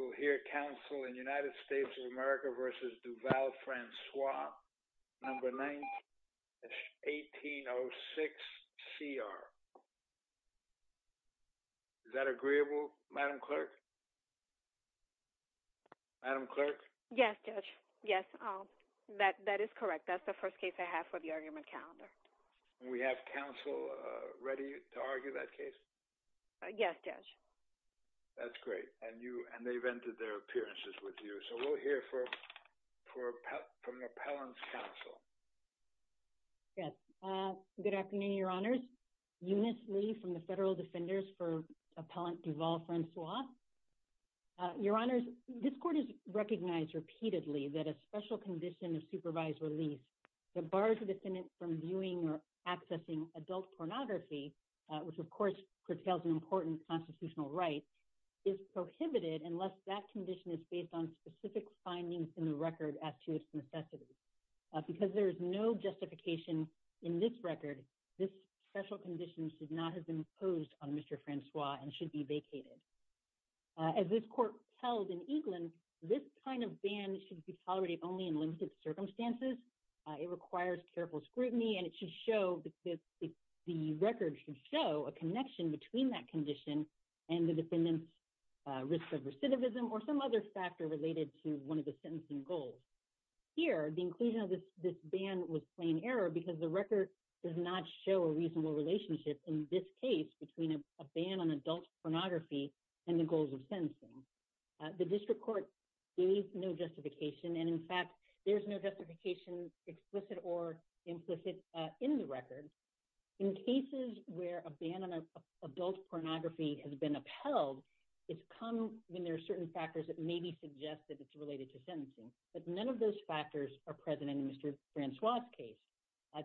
9-1806CR. Is that agreeable, Madam Clerk? Yes, Judge. Yes, that is correct. That's the first case I have for the argument calendar. And we have counsel ready to argue that case? Yes, Judge. That's great. And they've entered their appearances with you. So we'll hear from the appellant's counsel. Yes. Good afternoon, Your Honors. Eunice Lee from the Federal Defenders for Appellant Duval Francois. Your Honors, this court has recognized repeatedly that a special condition of supervised release that bars the defendant from viewing or curtails an important constitutional right is prohibited unless that condition is based on specific findings in the record as to its necessity. Because there is no justification in this record, this special condition should not have been imposed on Mr. Francois and should be vacated. As this court held in England, this kind of ban should be tolerated only in limited circumstances. It requires careful scrutiny and it should show that the record should show a relationship between that condition and the defendant's risk of recidivism or some other factor related to one of the sentencing goals. Here, the inclusion of this ban was plain error because the record does not show a reasonable relationship in this case between a ban on adult pornography and the goals of sentencing. The district court gave no justification. And in fact, there's no justification, explicit or implicit, in the record. In cases where a ban on a pornography has been upheld, it's common when there are certain factors that maybe suggest that it's related to sentencing. But none of those factors are present in Mr. Francois' case.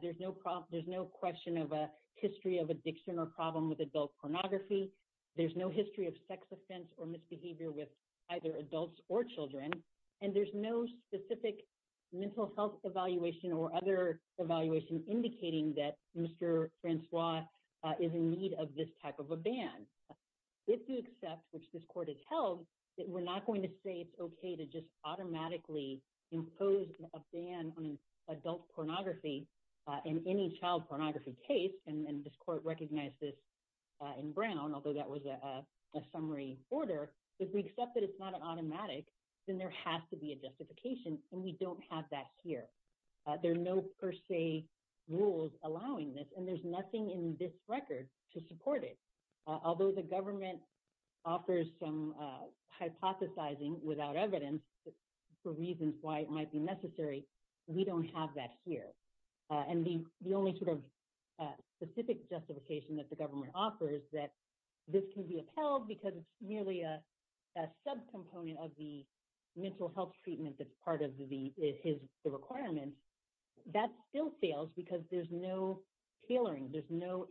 There's no question of a history of addiction or problem with adult pornography. There's no history of sex offense or misbehavior with either adults or children. And there's no specific mental health evaluation or other evaluation indicating that Mr. Francois is in a state of a ban. If you accept, which this court has held, that we're not going to say it's okay to just automatically impose a ban on adult pornography in any child pornography case, and this court recognized this in Brown, although that was a summary order. If we accept that it's not an automatic, then there has to be a justification, and we don't have that here. There are no per se rules allowing this, and there's nothing in this record to support it. Although the government offers some hypothesizing without evidence for reasons why it might be necessary, we don't have that here. And the only sort of specific justification that the government offers that this can be upheld because it's merely a subcomponent of the mental health treatment that's part of his requirements, that still fails because there's no tailoring, there's no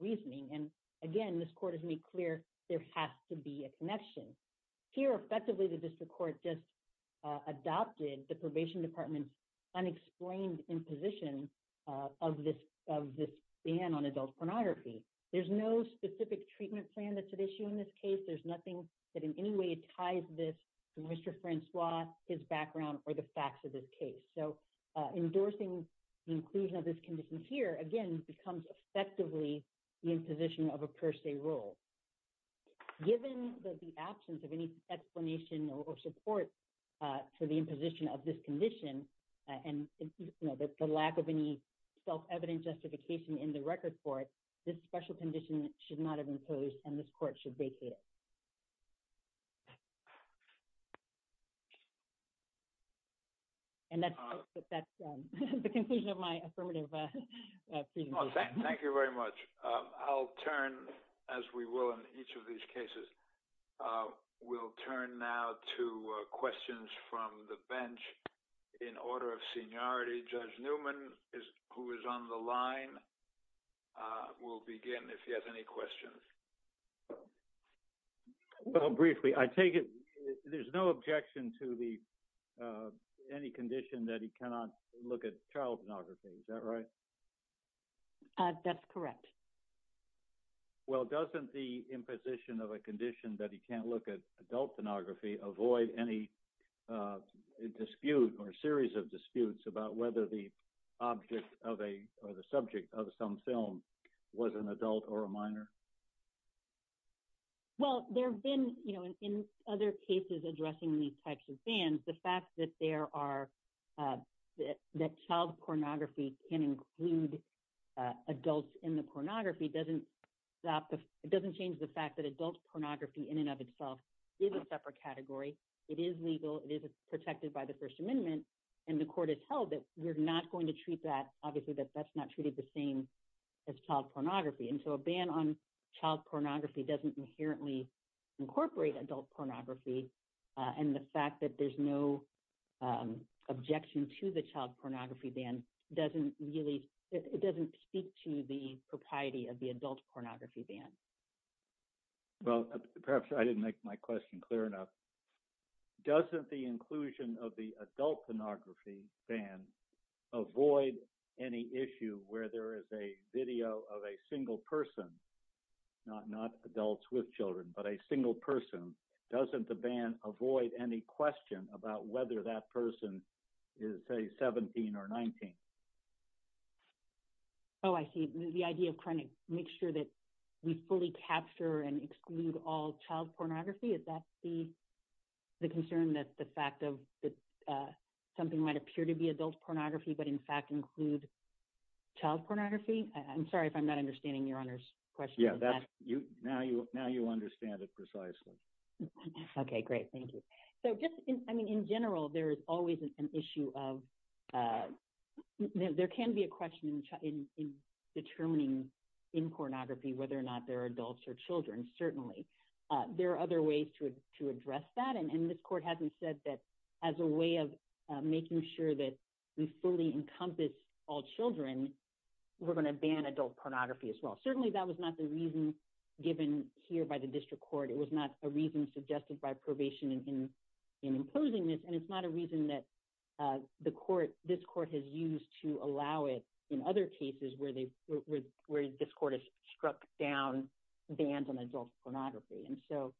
reasoning. And again, this court has made clear there has to be a connection. Here, effectively, the district court just adopted the probation department's unexplained imposition of this ban on adult pornography. There's no specific treatment plan that's at issue in this case. There's nothing that in any way ties this to Mr. Francois, his background, or the facts of this case. So endorsing the inclusion of this condition here, again, becomes effectively the imposition of a per se rule. Given the absence of any explanation or support for the imposition of this condition, and the lack of any self-evident justification in the record for it, this special condition should not have been imposed, and this Thank you very much. I'll turn, as we will in each of these cases, we'll turn now to questions from the bench in order of seniority. Judge Newman, who is on the line, will begin if he has any questions. Well, briefly, I take it there's no objection to the any condition that he cannot look at child pornography, is that right? That's correct. Well, doesn't the imposition of a condition that he can't look at adult pornography avoid any dispute or series of disputes about whether the object of a or the subject of some film was an adult or a minor? Well, there have been, you know, in other cases addressing these types of bans, the fact that there are, that child pornography can include adults in the pornography doesn't stop, it doesn't change the fact that adult pornography in and of itself is a separate category. It is legal, it is protected by the First Amendment, and the court has held that we're not going to treat that, obviously, that that's not treated the same as child pornography. And so a ban on child pornography doesn't inherently incorporate adult pornography. And the fact that there's no objection to the child pornography ban doesn't really, it doesn't speak to the propriety of the adult pornography ban. Well, perhaps I didn't make my question clear enough. Doesn't the inclusion of the adult pornography ban avoid any issue where there is a video of a not adults with children, but a single person? Doesn't the ban avoid any question about whether that person is, say, 17 or 19? Oh, I see. The idea of trying to make sure that we fully capture and exclude all child pornography, is that the concern that the fact of that something might appear to be adult pornography, but in fact include child pornography? I'm sorry if I'm not understanding Your Honor's question. Now you understand it precisely. Okay, great. Thank you. So just, I mean, in general, there is always an issue of, there can be a question in determining in pornography whether or not they're adults or children, certainly. There are other ways to address that. And this court hasn't said that as a way of making sure that we fully encompass all children, we're going to ban adult pornography as well. Certainly, that was not the reason given here by the district court. It was not a reason suggested by probation in imposing this. And it's not a reason that the court, this court has used to allow it in other cases where they, where this court has struck down bans on adult pornography. And so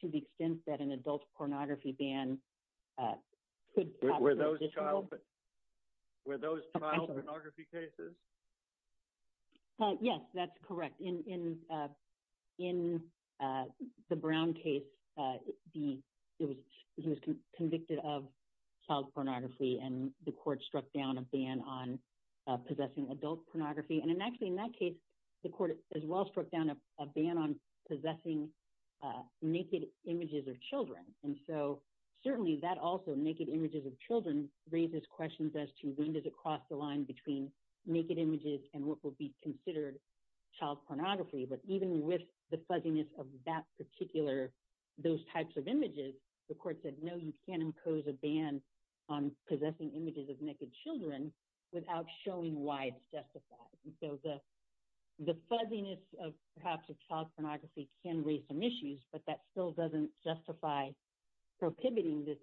to the extent that an adult pornography ban could- Were those child pornography cases? Yes, that's correct. In the Brown case, he was convicted of child pornography and the court struck down a ban on possessing adult pornography. And actually in that case, the court as well struck down a ban on possessing naked images of children. And so certainly that also, naked images of children, raises questions as to when does it cross the line between naked images and what will be considered child pornography. But even with the fuzziness of that particular, those types of images, the court said, no, you can't impose a ban on possessing images of naked children without showing why it's justified. And so the, the fuzziness of perhaps a child pornography can raise some issues, but that still doesn't justify prohibiting this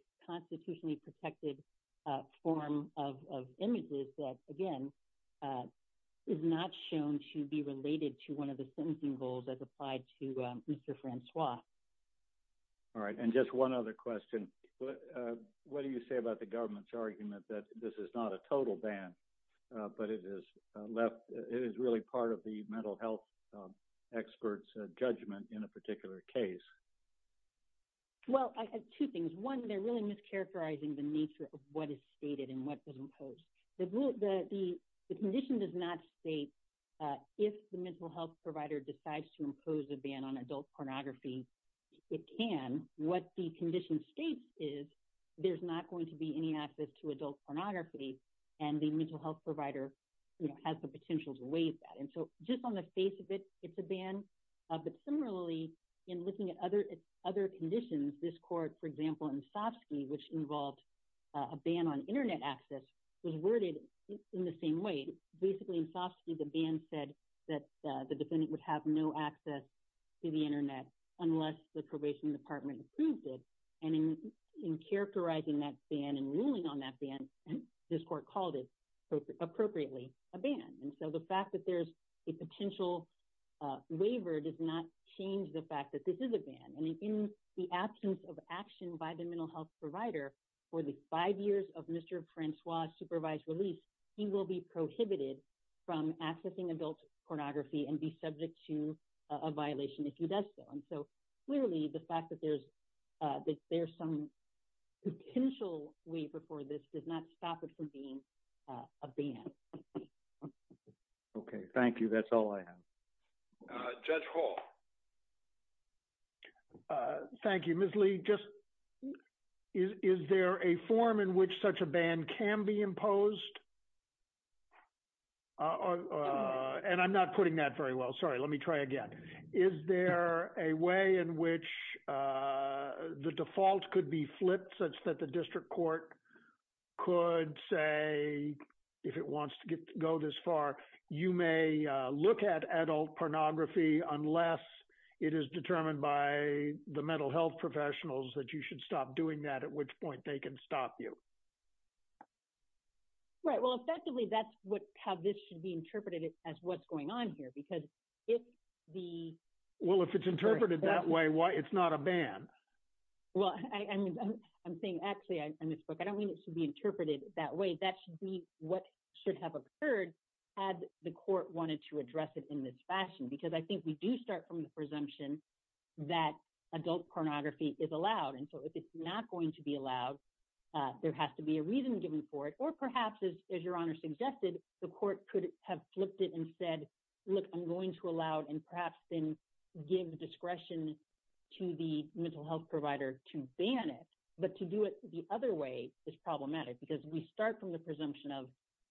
is not shown to be related to one of the sentencing goals as applied to Mr. Francois. All right. And just one other question. What do you say about the government's argument that this is not a total ban, but it is left, it is really part of the mental health experts judgment in a particular case? Well, I have two things. One, they're really mischaracterizing the nature of what is stated and what was imposed. The condition does not state if the mental health provider decides to impose a ban on adult pornography, it can. What the condition states is there's not going to be any access to adult pornography and the mental health provider has the potential to waive that. And so just on the face of it, it's a ban. But similarly, in looking at other conditions, this court, for example, in Sofsky, which involved a ban on internet access was worded in the same way. Basically in Sofsky, the ban said that the defendant would have no access to the internet unless the probation department approved it. And in characterizing that ban and ruling on that ban, this court called it appropriately a ban. And so the fact that a potential waiver does not change the fact that this is a ban. And in the absence of action by the mental health provider for the five years of Mr. Francois supervised release, he will be prohibited from accessing adult pornography and be subject to a violation if he does so. And so clearly, the fact that there's some potential waiver for this does not stop it from being a ban. Okay, thank you. That's all I have. Judge Hall. Thank you, Ms. Lee. Is there a form in which such a ban can be imposed? And I'm not putting that very well. Sorry, let me try again. Is there a way in which the default could be flipped such that the district court could say, if it wants to go this far, you may look at adult pornography unless it is determined by the mental health professionals that you should stop doing that, at which point they can stop you? Right. Well, effectively, that's how this should be interpreted as what's going on here. Because if the... Well, if it's interpreted that way, it's not a ban. Well, I'm saying, actually, in this book, I don't mean it should be interpreted that way. That should be what should have occurred had the court wanted to address it in this fashion. Because I think we do start from the presumption that adult pornography is allowed. And so if it's not going to be allowed, there has to be a reason given for it. Or perhaps, as your honor suggested, the court could have flipped it and said, look, I'm going to allow it and perhaps then give discretion to the mental health provider to ban it. But to do it the other way is problematic because we start from the presumption of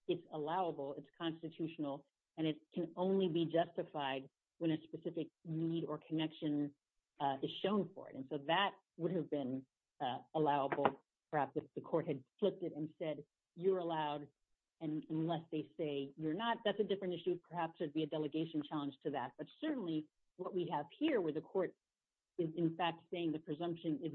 it's allowable, it's constitutional, and it can only be justified when a specific need or connection is shown for it. And so that would have been allowable, perhaps if the court had flipped it and said, you're allowed, and unless they say you're not, that's a different issue. Perhaps there'd be a delegation challenge to that. But certainly, what we have here where the court is, in fact, saying the presumption is,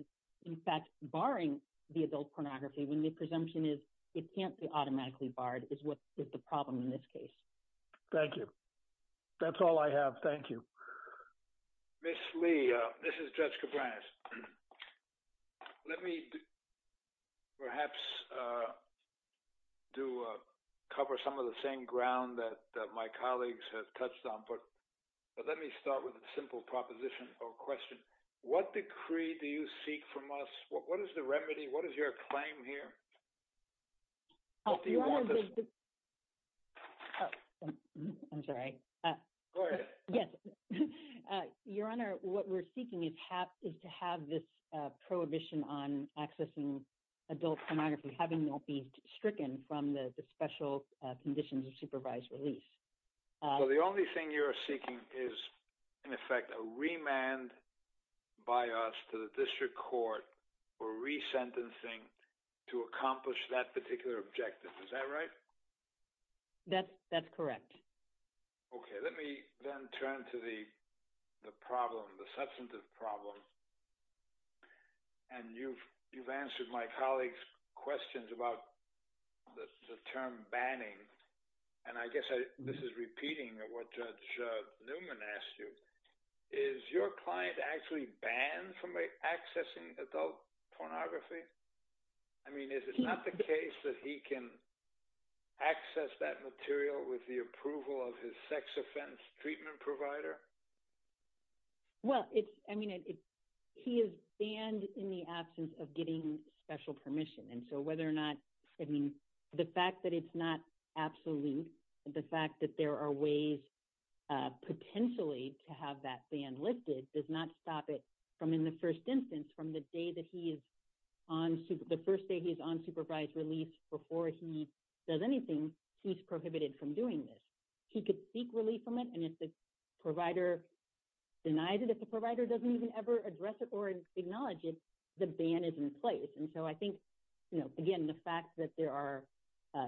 in fact, barring the adult pornography when the presumption is it can't be automatically barred is what is the problem in this case. Thank you. That's all I have. Thank you. Ms. Lee, this is Judge Cabreras. Let me perhaps cover some of the same ground that my colleagues have touched on. But let me start with a simple proposition or question. What decree do you seek from us? What is the remedy? What is your claim here? Oh, I'm sorry. Go ahead. Yes. Your Honor, what we're seeking is to have this prohibition on accessing adult pornography, having it be stricken from the special conditions of supervised release. Well, the only thing you're seeking is, in effect, a remand by us to the district court for resentencing to accomplish that particular objective. Is that right? That's correct. Okay. Let me then turn to the problem, the substantive problem. And you've answered my colleague's questions about the term banning. And I guess this is banned from accessing adult pornography? I mean, is it not the case that he can access that material with the approval of his sex offense treatment provider? Well, I mean, he is banned in the absence of getting special permission. And so whether or not, I mean, the fact that it's not absolute, the fact that there are ways potentially to have that ban lifted does not stop it from, in the first instance, from the day that he is on, the first day he's on supervised release before he does anything, he's prohibited from doing this. He could seek relief from it. And if the provider denies it, if the provider doesn't even ever address it or acknowledge it, the ban is in place. And so I think, again, the fact that there's a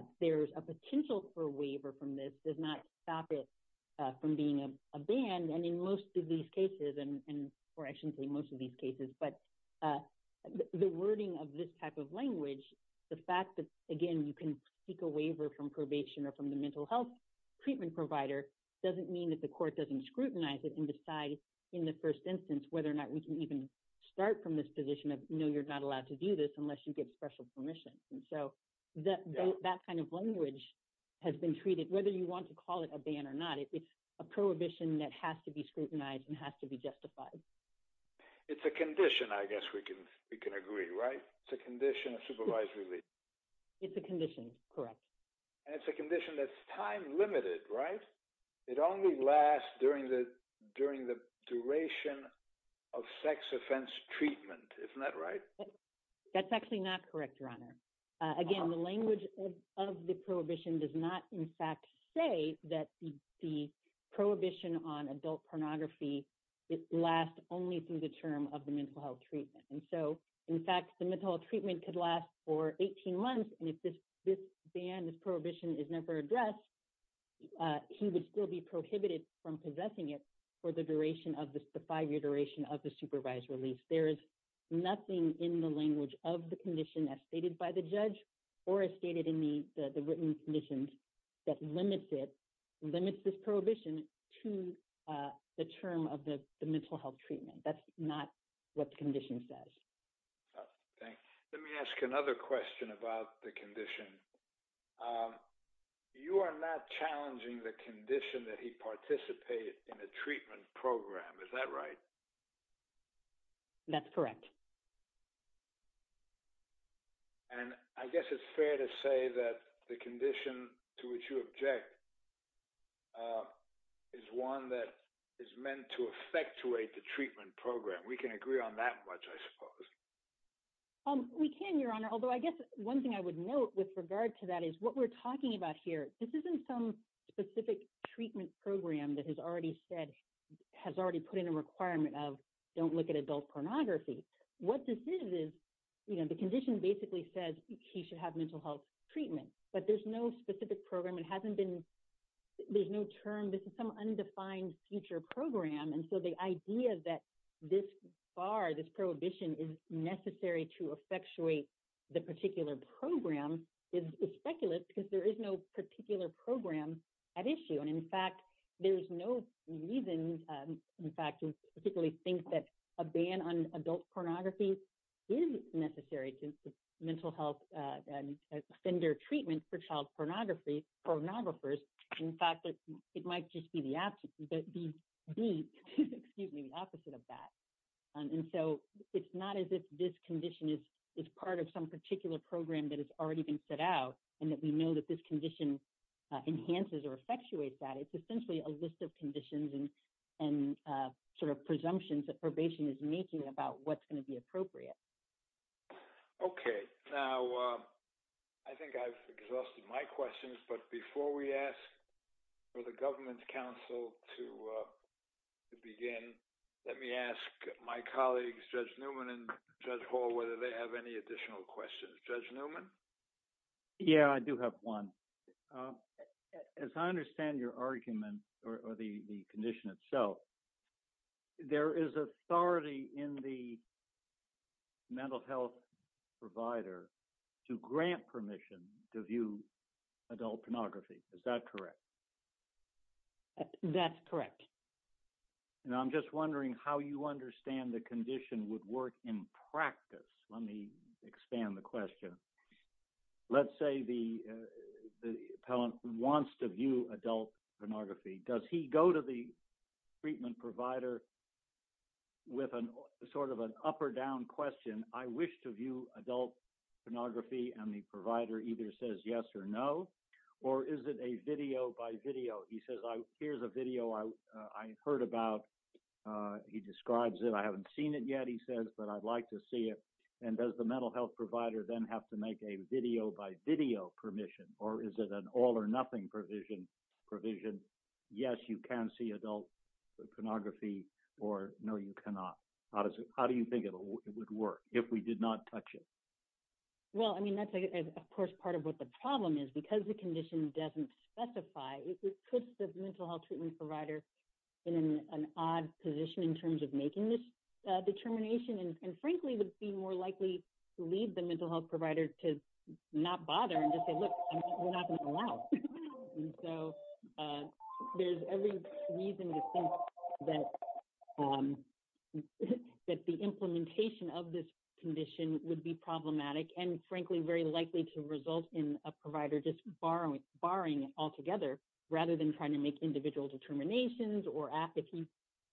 or I shouldn't say most of these cases, but the wording of this type of language, the fact that, again, you can seek a waiver from probation or from the mental health treatment provider doesn't mean that the court doesn't scrutinize it and decide in the first instance, whether or not we can even start from this position of, no, you're not allowed to do this unless you get special permission. And so that kind of language has been treated, whether you want to call it a ban or not, it's a prohibition that has to be scrutinized and has to be justified. It's a condition, I guess we can agree, right? It's a condition of supervised release. It's a condition, correct. And it's a condition that's time limited, right? It only lasts during the duration of sex offense treatment. Isn't that right? That's actually not correct, Your Honor. Again, the language of the prohibition does not, in fact, say that the prohibition on adult pornography lasts only through the term of the mental health treatment. And so, in fact, the mental health treatment could last for 18 months. And if this ban, this prohibition is never addressed, he would still be prohibited from possessing it for the duration of the five-year duration of the supervised release. There is nothing in the language of the condition as stated by the judge or as stated in the written conditions that limits it, limits this prohibition to the term of the mental health treatment. That's not what the condition says. Thanks. Let me ask another question about the condition. You are not challenging the condition that he participated in a treatment program, is that right? That's correct. And I guess it's fair to say that the condition to which you object is one that is meant to effectuate the treatment program. We can agree on that much, I suppose. We can, Your Honor. Although I guess one thing I would note with regard to that is what we're talking about here, this isn't some specific treatment program that has already said, has already put in a requirement of don't look at adult pornography. What this is, you know, the condition basically says he should have mental health treatment, but there's no specific program. It hasn't been, there's no term, this is some undefined future program. And so the idea that this bar, this prohibition is necessary to effectuate the particular program is speculative because there is no particular program at issue. In fact, there's no reason, in fact, to particularly think that a ban on adult pornography is necessary to mental health offender treatment for child pornography, pornographers. In fact, it might just be the opposite of that. And so it's not as if this condition is part of some particular program that has already been set out and that we know that this condition enhances or that it's essentially a list of conditions and sort of presumptions that probation is making about what's going to be appropriate. Okay. Now I think I've exhausted my questions, but before we ask for the government's counsel to begin, let me ask my colleagues, Judge Newman and Judge Hall, whether they have any additional questions. Judge Newman? Yeah, I do have one. As I understand your argument or the condition itself, there is authority in the mental health provider to grant permission to view adult pornography. Is that correct? That's correct. And I'm just wondering how you understand the condition would work in practice. Let me expand the question. Let's say the appellant wants to view adult pornography. Does he go to the treatment provider with sort of an up or down question? I wish to view adult pornography. And the provider either says yes or no, or is it a video by video? He says, here's a video I heard about. He describes it. I haven't seen it yet, he says, but I'd like to see it. And does the mental health provider then have to make a video by video permission, or is it an all or nothing provision? Yes, you can see adult pornography, or no, you cannot. How do you think it would work if we did not touch it? Well, I mean, that's of course part of what the problem is because the condition doesn't specify. It puts the mental health treatment provider in an odd position in terms of making this determination. And frankly, it would be more likely to leave the mental health provider to not bother and just say, look, we're not going to allow. And so there's every reason to think that the implementation of this condition would be problematic, and frankly, very likely to result in a provider just barring it altogether, rather than trying to make individual determinations or ask if he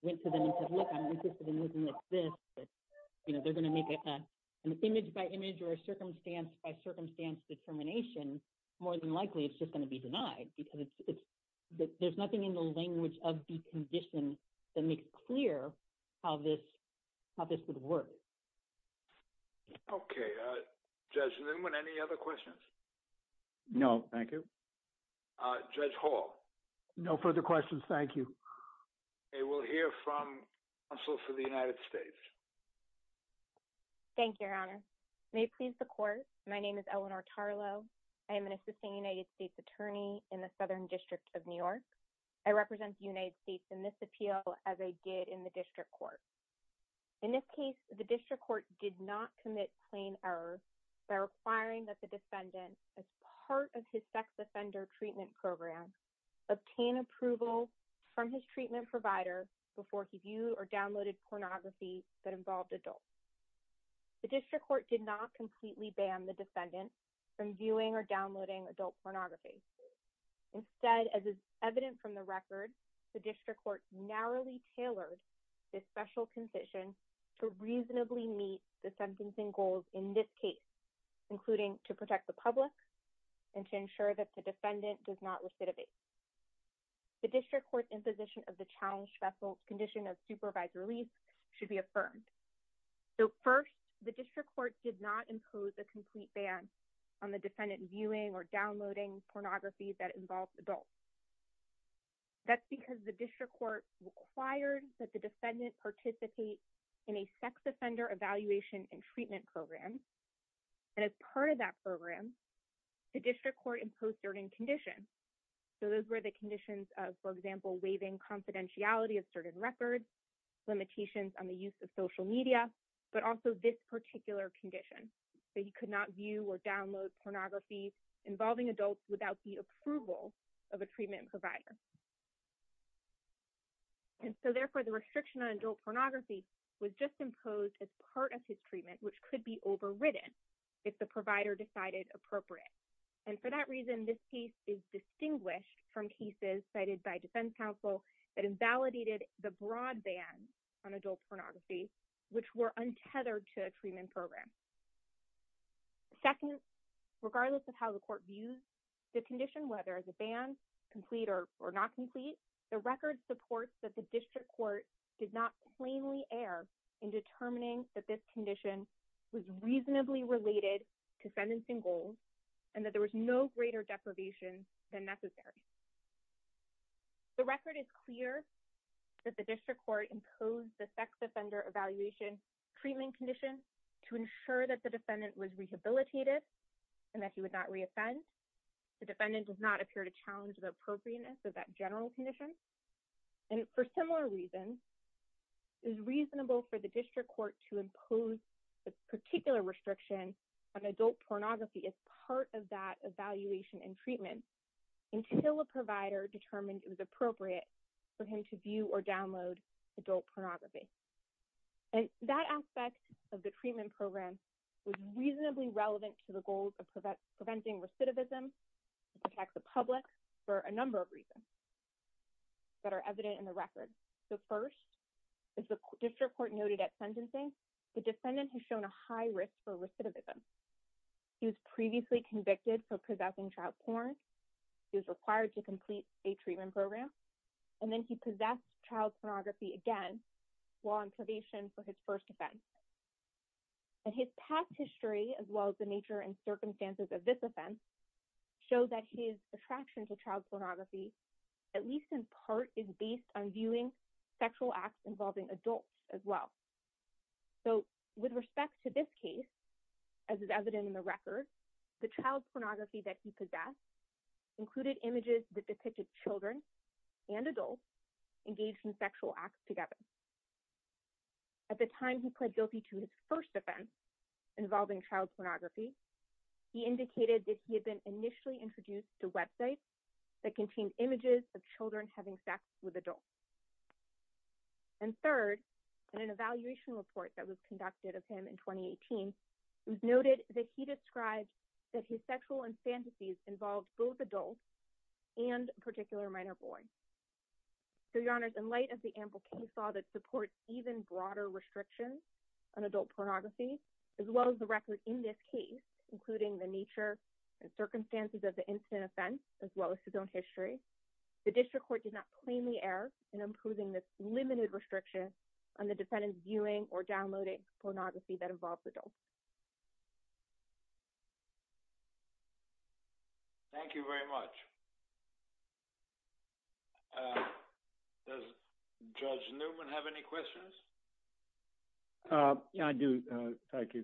went to them and said, look, I'm interested in looking at this, that they're going to make an image by image or a circumstance by circumstance determination, more than likely, it's just going to be denied because there's nothing in the language of the condition that makes clear how this would work. Okay. Judge Newman, any other questions? No, thank you. Judge Hall? No further questions, thank you. Okay, we'll hear from counsel for the United States. Thank you, Your Honor. May it please the court. My name is Eleanor Tarlow. I am an assisting United States attorney in the Southern District of New York. I represent the United States in this appeal as I did in the district court. In this case, the district court did not commit plain error by requiring that the defendant, as part of his sex offender treatment program, obtain approval from his treatment provider before he viewed or downloaded pornography that involved adults. The district court did not completely ban the defendant from viewing or downloading adult pornography. Instead, as is evident from the record, the district court narrowly tailored this special condition to reasonably meet the sentencing goals in this case, including to protect the public and to ensure that the defendant does not recidivate. The district court's imposition of the challenge special condition of supervised release should be affirmed. So first, the district court did not impose a complete ban on the defendant viewing or downloading pornography that involves adults. That's because the district court required that the defendant participate in a sex offender evaluation and treatment program. And as part of that program, the district court imposed certain conditions. So those were the conditions of, for example, waiving confidentiality of certain records, limitations on the use of social media, but also this particular condition. So he could not view or download pornography involving adults without the approval of a treatment provider. And so therefore, the restriction on adult pornography was just imposed as part of his And for that reason, this case is distinguished from cases cited by defense counsel that invalidated the broadband on adult pornography, which were untethered to a treatment program. Second, regardless of how the court views the condition, whether it's a ban, complete or not complete, the record supports that the district court did not plainly err in determining that this condition was reasonably related to sentencing goals and that there was no greater deprivation than necessary. The record is clear that the district court imposed the sex offender evaluation treatment condition to ensure that the defendant was rehabilitated and that he would not re-offend. The defendant does not appear to challenge the appropriateness of that general condition. And for similar reasons, it is reasonable for the district court to impose this particular restriction on adult pornography as part of that evaluation and treatment until a provider determined it was appropriate for him to view or download adult pornography. And that aspect of the treatment program was reasonably relevant to the goals of preventing recidivism. It protects the public for a number of reasons that are evident in the record. So first, as the district court noted at sentencing, the defendant has shown a high risk for recidivism. He was previously convicted for possessing child porn. He was required to complete a treatment program. And then he possessed child pornography again while on probation for his first offense. And his past history as well as the nature and circumstances of this offense show that his attraction to child pornography, at least in part, is based on viewing sexual acts involving adults as well. So with respect to this case, as is evident in the record, the child pornography that he possessed included images that depicted children and adults engaged in sexual acts together. At the time he pled guilty to his first offense involving child pornography, he indicated that he had been initially introduced to websites that contained images of children having sex with adults. And third, in an evaluation report that was conducted of him in 2018, it was noted that he described that his sexual infanticides involved both adults and a particular minor boy. So your honors, in light of the ample case law that supports even broader restrictions on adult pornography, as well as the record in this case, including the nature and circumstances of the incident offense, as well as his own history, the district court did not plainly err in approving this limited restriction on the defendant's viewing or downloading pornography that involves adults. Thank you very much. Does Judge Newman have any questions? Yeah, I do. Thank you.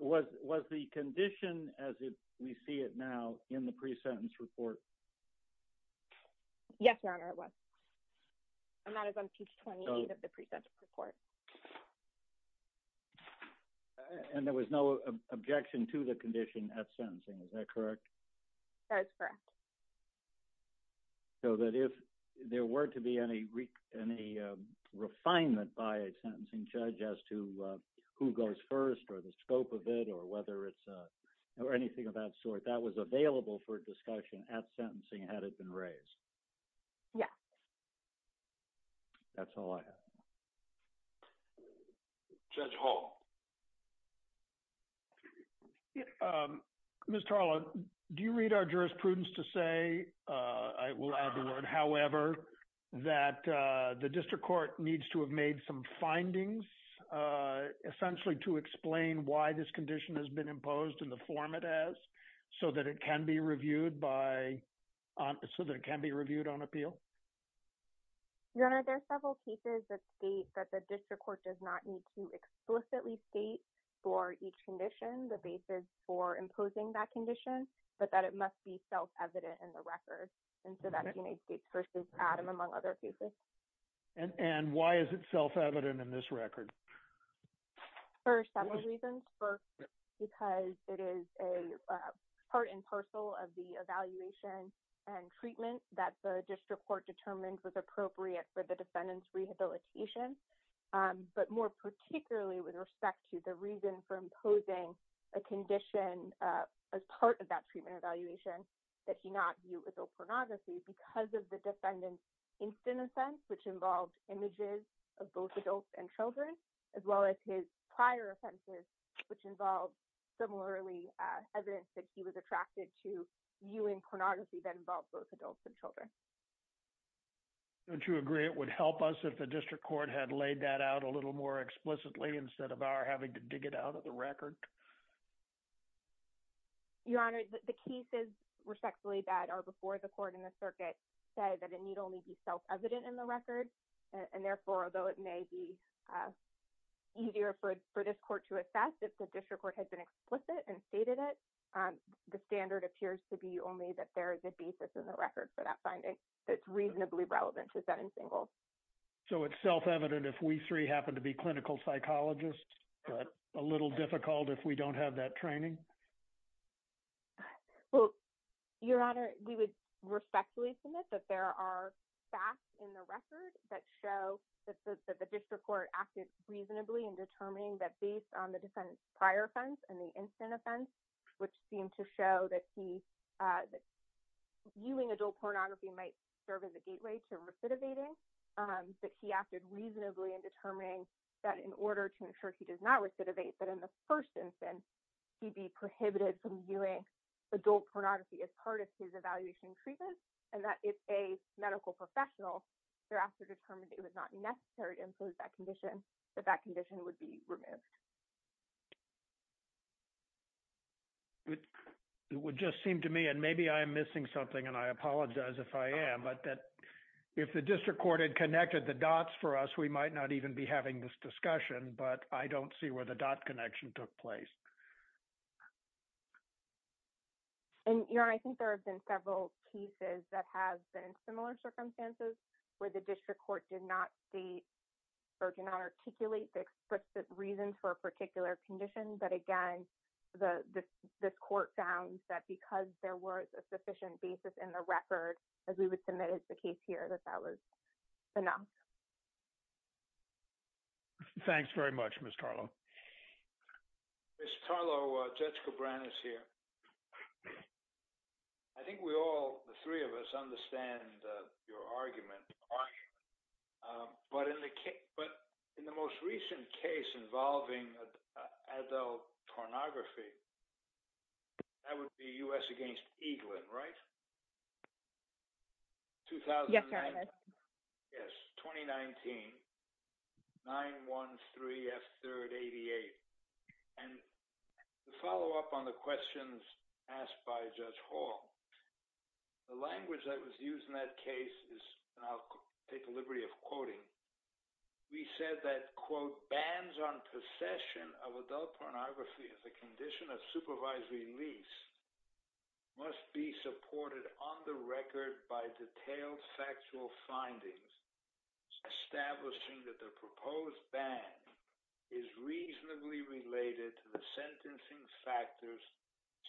Was the condition as we see it now in the pre-sentence report? Yes, your honor, it was. And that is on page 28 of the pre-sentence report. And there was no objection to the condition at sentencing, is that correct? That's correct. So that if there were to be any refinement by a sentencing judge as to who goes first or the scope of it or whether it's or anything of that sort, that was available for discussion at sentencing had it been raised? Yeah. That's all I have. Judge Hall. Ms. Tarlo, do you read our jurisprudence to say, I will add the word, however, that the district court needs to have made some findings essentially to explain why this appeal? Your honor, there are several cases that state that the district court does not need to explicitly state for each condition the basis for imposing that condition, but that it must be self-evident in the record. And so that's United States versus Adam, among other cases. And why is it self-evident in this record? For several reasons. First, because it is a part and parcel of the evaluation and treatment that the district court determined was appropriate for the defendant's rehabilitation. But more particularly with respect to the reason for imposing a condition as part of that treatment evaluation that he not view adult pornography because of the defendant's instant offense, which involved images of both adults and children, as well as his prior offenses, which involved similarly evidence that he was attracted to viewing pornography that involved both adults and children. Don't you agree it would help us if the district court had laid that out a little more explicitly instead of our having to dig it out of the record? Your honor, the cases respectfully that are before the court and the circuit say that it need only be self-evident in the record. And therefore, although it may be easier for this court to assess if the district court has been explicit and stated it, the standard appears to be only that there is a basis in the record for that finding that's reasonably relevant to set in single. So it's self-evident if we three happen to be clinical psychologists, but a little difficult if we don't have that training? Well, your honor, we would respectfully submit that there are facts in the record that show that the district court acted reasonably in determining that based on the defendant's prior offense and the instant offense, which seemed to show that he, viewing adult pornography might serve as a gateway to recidivating, that he acted reasonably in determining that in order to ensure he does not recidivate, that in the first instance, he'd be prohibited from viewing adult pornography as part of his evaluation treatment. And that if a medical professional thereafter determined it was not necessary to impose that condition, that that condition would be removed. It would just seem to me, and maybe I am missing something and I apologize if I am, but that if the district court had connected the dots for us, we might not even be having this discussion, but I don't see where the dot connection took place. And your honor, I think there have been several cases that have been in similar circumstances where the district court did not state or did not articulate the explicit reasons for a particular condition, but again, this court found that because there was a sufficient basis in the record, as we would submit as the case here, that that was enough. Thanks very much, Ms. Carlo. Ms. Carlo, Judge Cabrera is here. I think we all, the three of us understand your argument, but in the most recent case involving adult pornography, that would be U.S. against Eaglin, right? Yes, your honor. 2009, yes, 2019, 9-1-3-F-388. And to follow up on the questions asked by Judge Hall, the language that was used in that case is, and I'll take the liberty of quoting, we said that, quote, bans on possession of adult pornography as a condition of supervisory lease must be supported on the record by detailed factual findings establishing that the proposed ban is reasonably related to the sentencing factors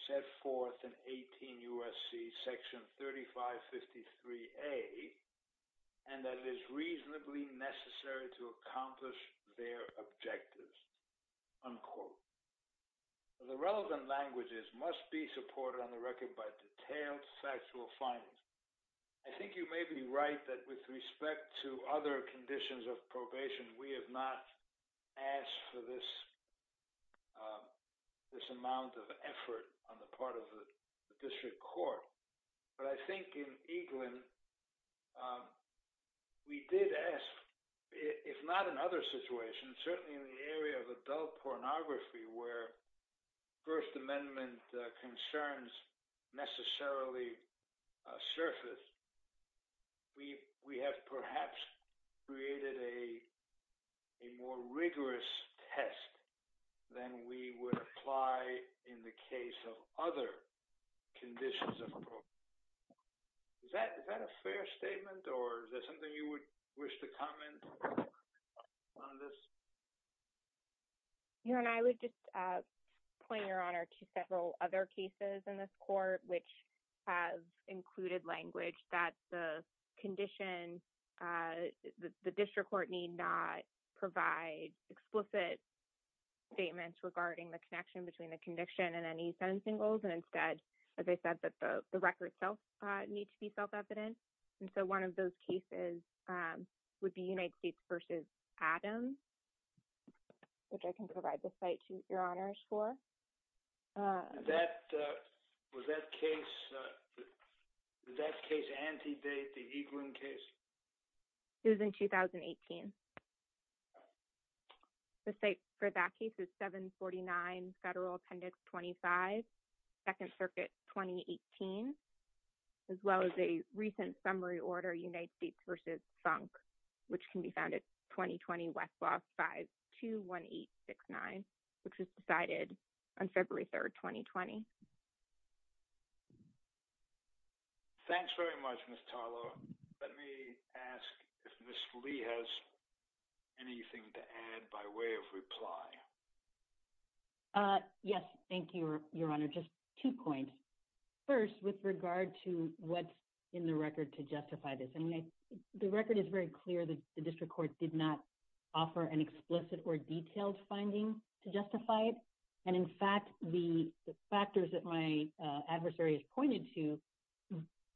set forth in 18 U.S.C. section 3553a, and that it is reasonably necessary to accomplish their objectives, unquote. So the relevant languages must be supported on the record by detailed factual findings. I think you may be right that with respect to other conditions of probation, we have not asked for this amount of effort on the part of the district court. But I think in Eaglin, we did ask, if not in other situations, certainly in the area of adult pornography, where First Amendment concerns necessarily surfaced, we have perhaps created a more rigorous test than we would apply in the case of other conditions of a probation. Is that correct? Is that a fair statement, or is there something you would wish to comment on this? Your Honor, I would just point, Your Honor, to several other cases in this court which have included language that the condition, the district court need not provide explicit statements regarding the connection between the conviction and any sentencing rules, and instead, as I said, the records need to be self-evident. And so one of those cases would be United States v. Adams, which I can provide the site to Your Honors for. Was that case anti-date, the Eaglin Second Circuit 2018, as well as a recent summary order, United States v. Sunk, which can be found at 2020-521869, which was decided on February 3, 2020. Thanks very much, Ms. Tarlow. Let me ask if Ms. Lee has anything to add by way of reply. Yes, thank you, Your Honor. Just two points. First, with regard to what's in the record to justify this. The record is very clear that the district court did not offer an explicit or detailed finding to justify it. And in fact, the factors that my adversary has pointed to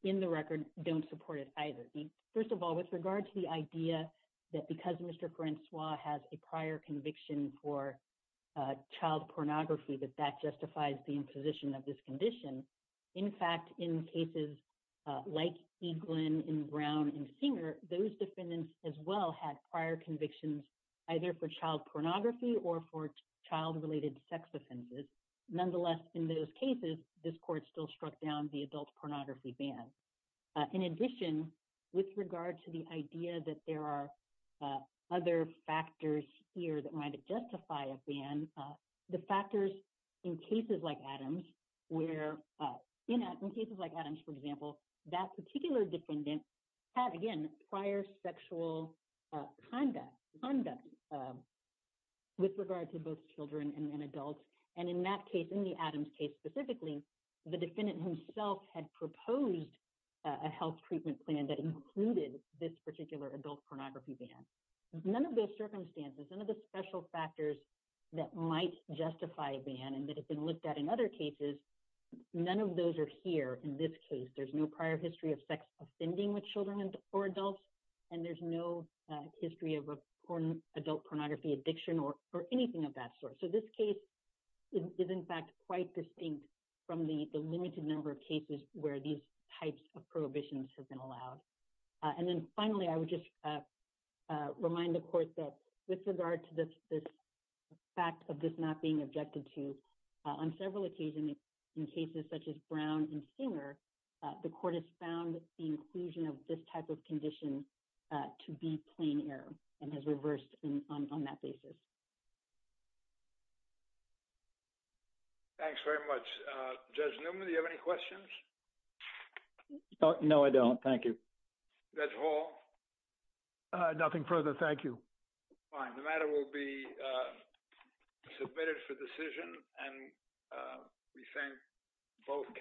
in the record don't support it either. First of all, with regard to the idea that because Mr. Francois has a prior conviction for child pornography, that that justifies the imposition of this condition. In fact, in cases like Eaglin and Brown and Singer, those defendants as well had prior convictions either for child pornography or for child-related sex offenses. Nonetheless, in those cases, this court still struck down the adult pornography ban. In addition, with regard to the idea that there are other factors here that might justify a ban, the factors in cases like Adams, where in cases like Adams, for example, that particular defendant had, again, prior sexual conduct with regard to both children and adults. And in that case, the Adams case specifically, the defendant himself had proposed a health treatment plan that included this particular adult pornography ban. None of those circumstances, none of the special factors that might justify a ban and that have been looked at in other cases, none of those are here in this case. There's no prior history of sex offending with children or adults, and there's no history of adult pornography addiction or anything of that quite distinct from the limited number of cases where these types of prohibitions have been allowed. And then finally, I would just remind the court that with regard to this fact of this not being objected to, on several occasions in cases such as Brown and Singer, the court has found the inclusion of this type of condition to be plain error and has reversed on that basis. Thanks very much. Judge Newman, do you have any questions? No, I don't. Thank you. Judge Hall? Nothing further. Thank you. Fine. The matter will be submitted for decision, and we thank both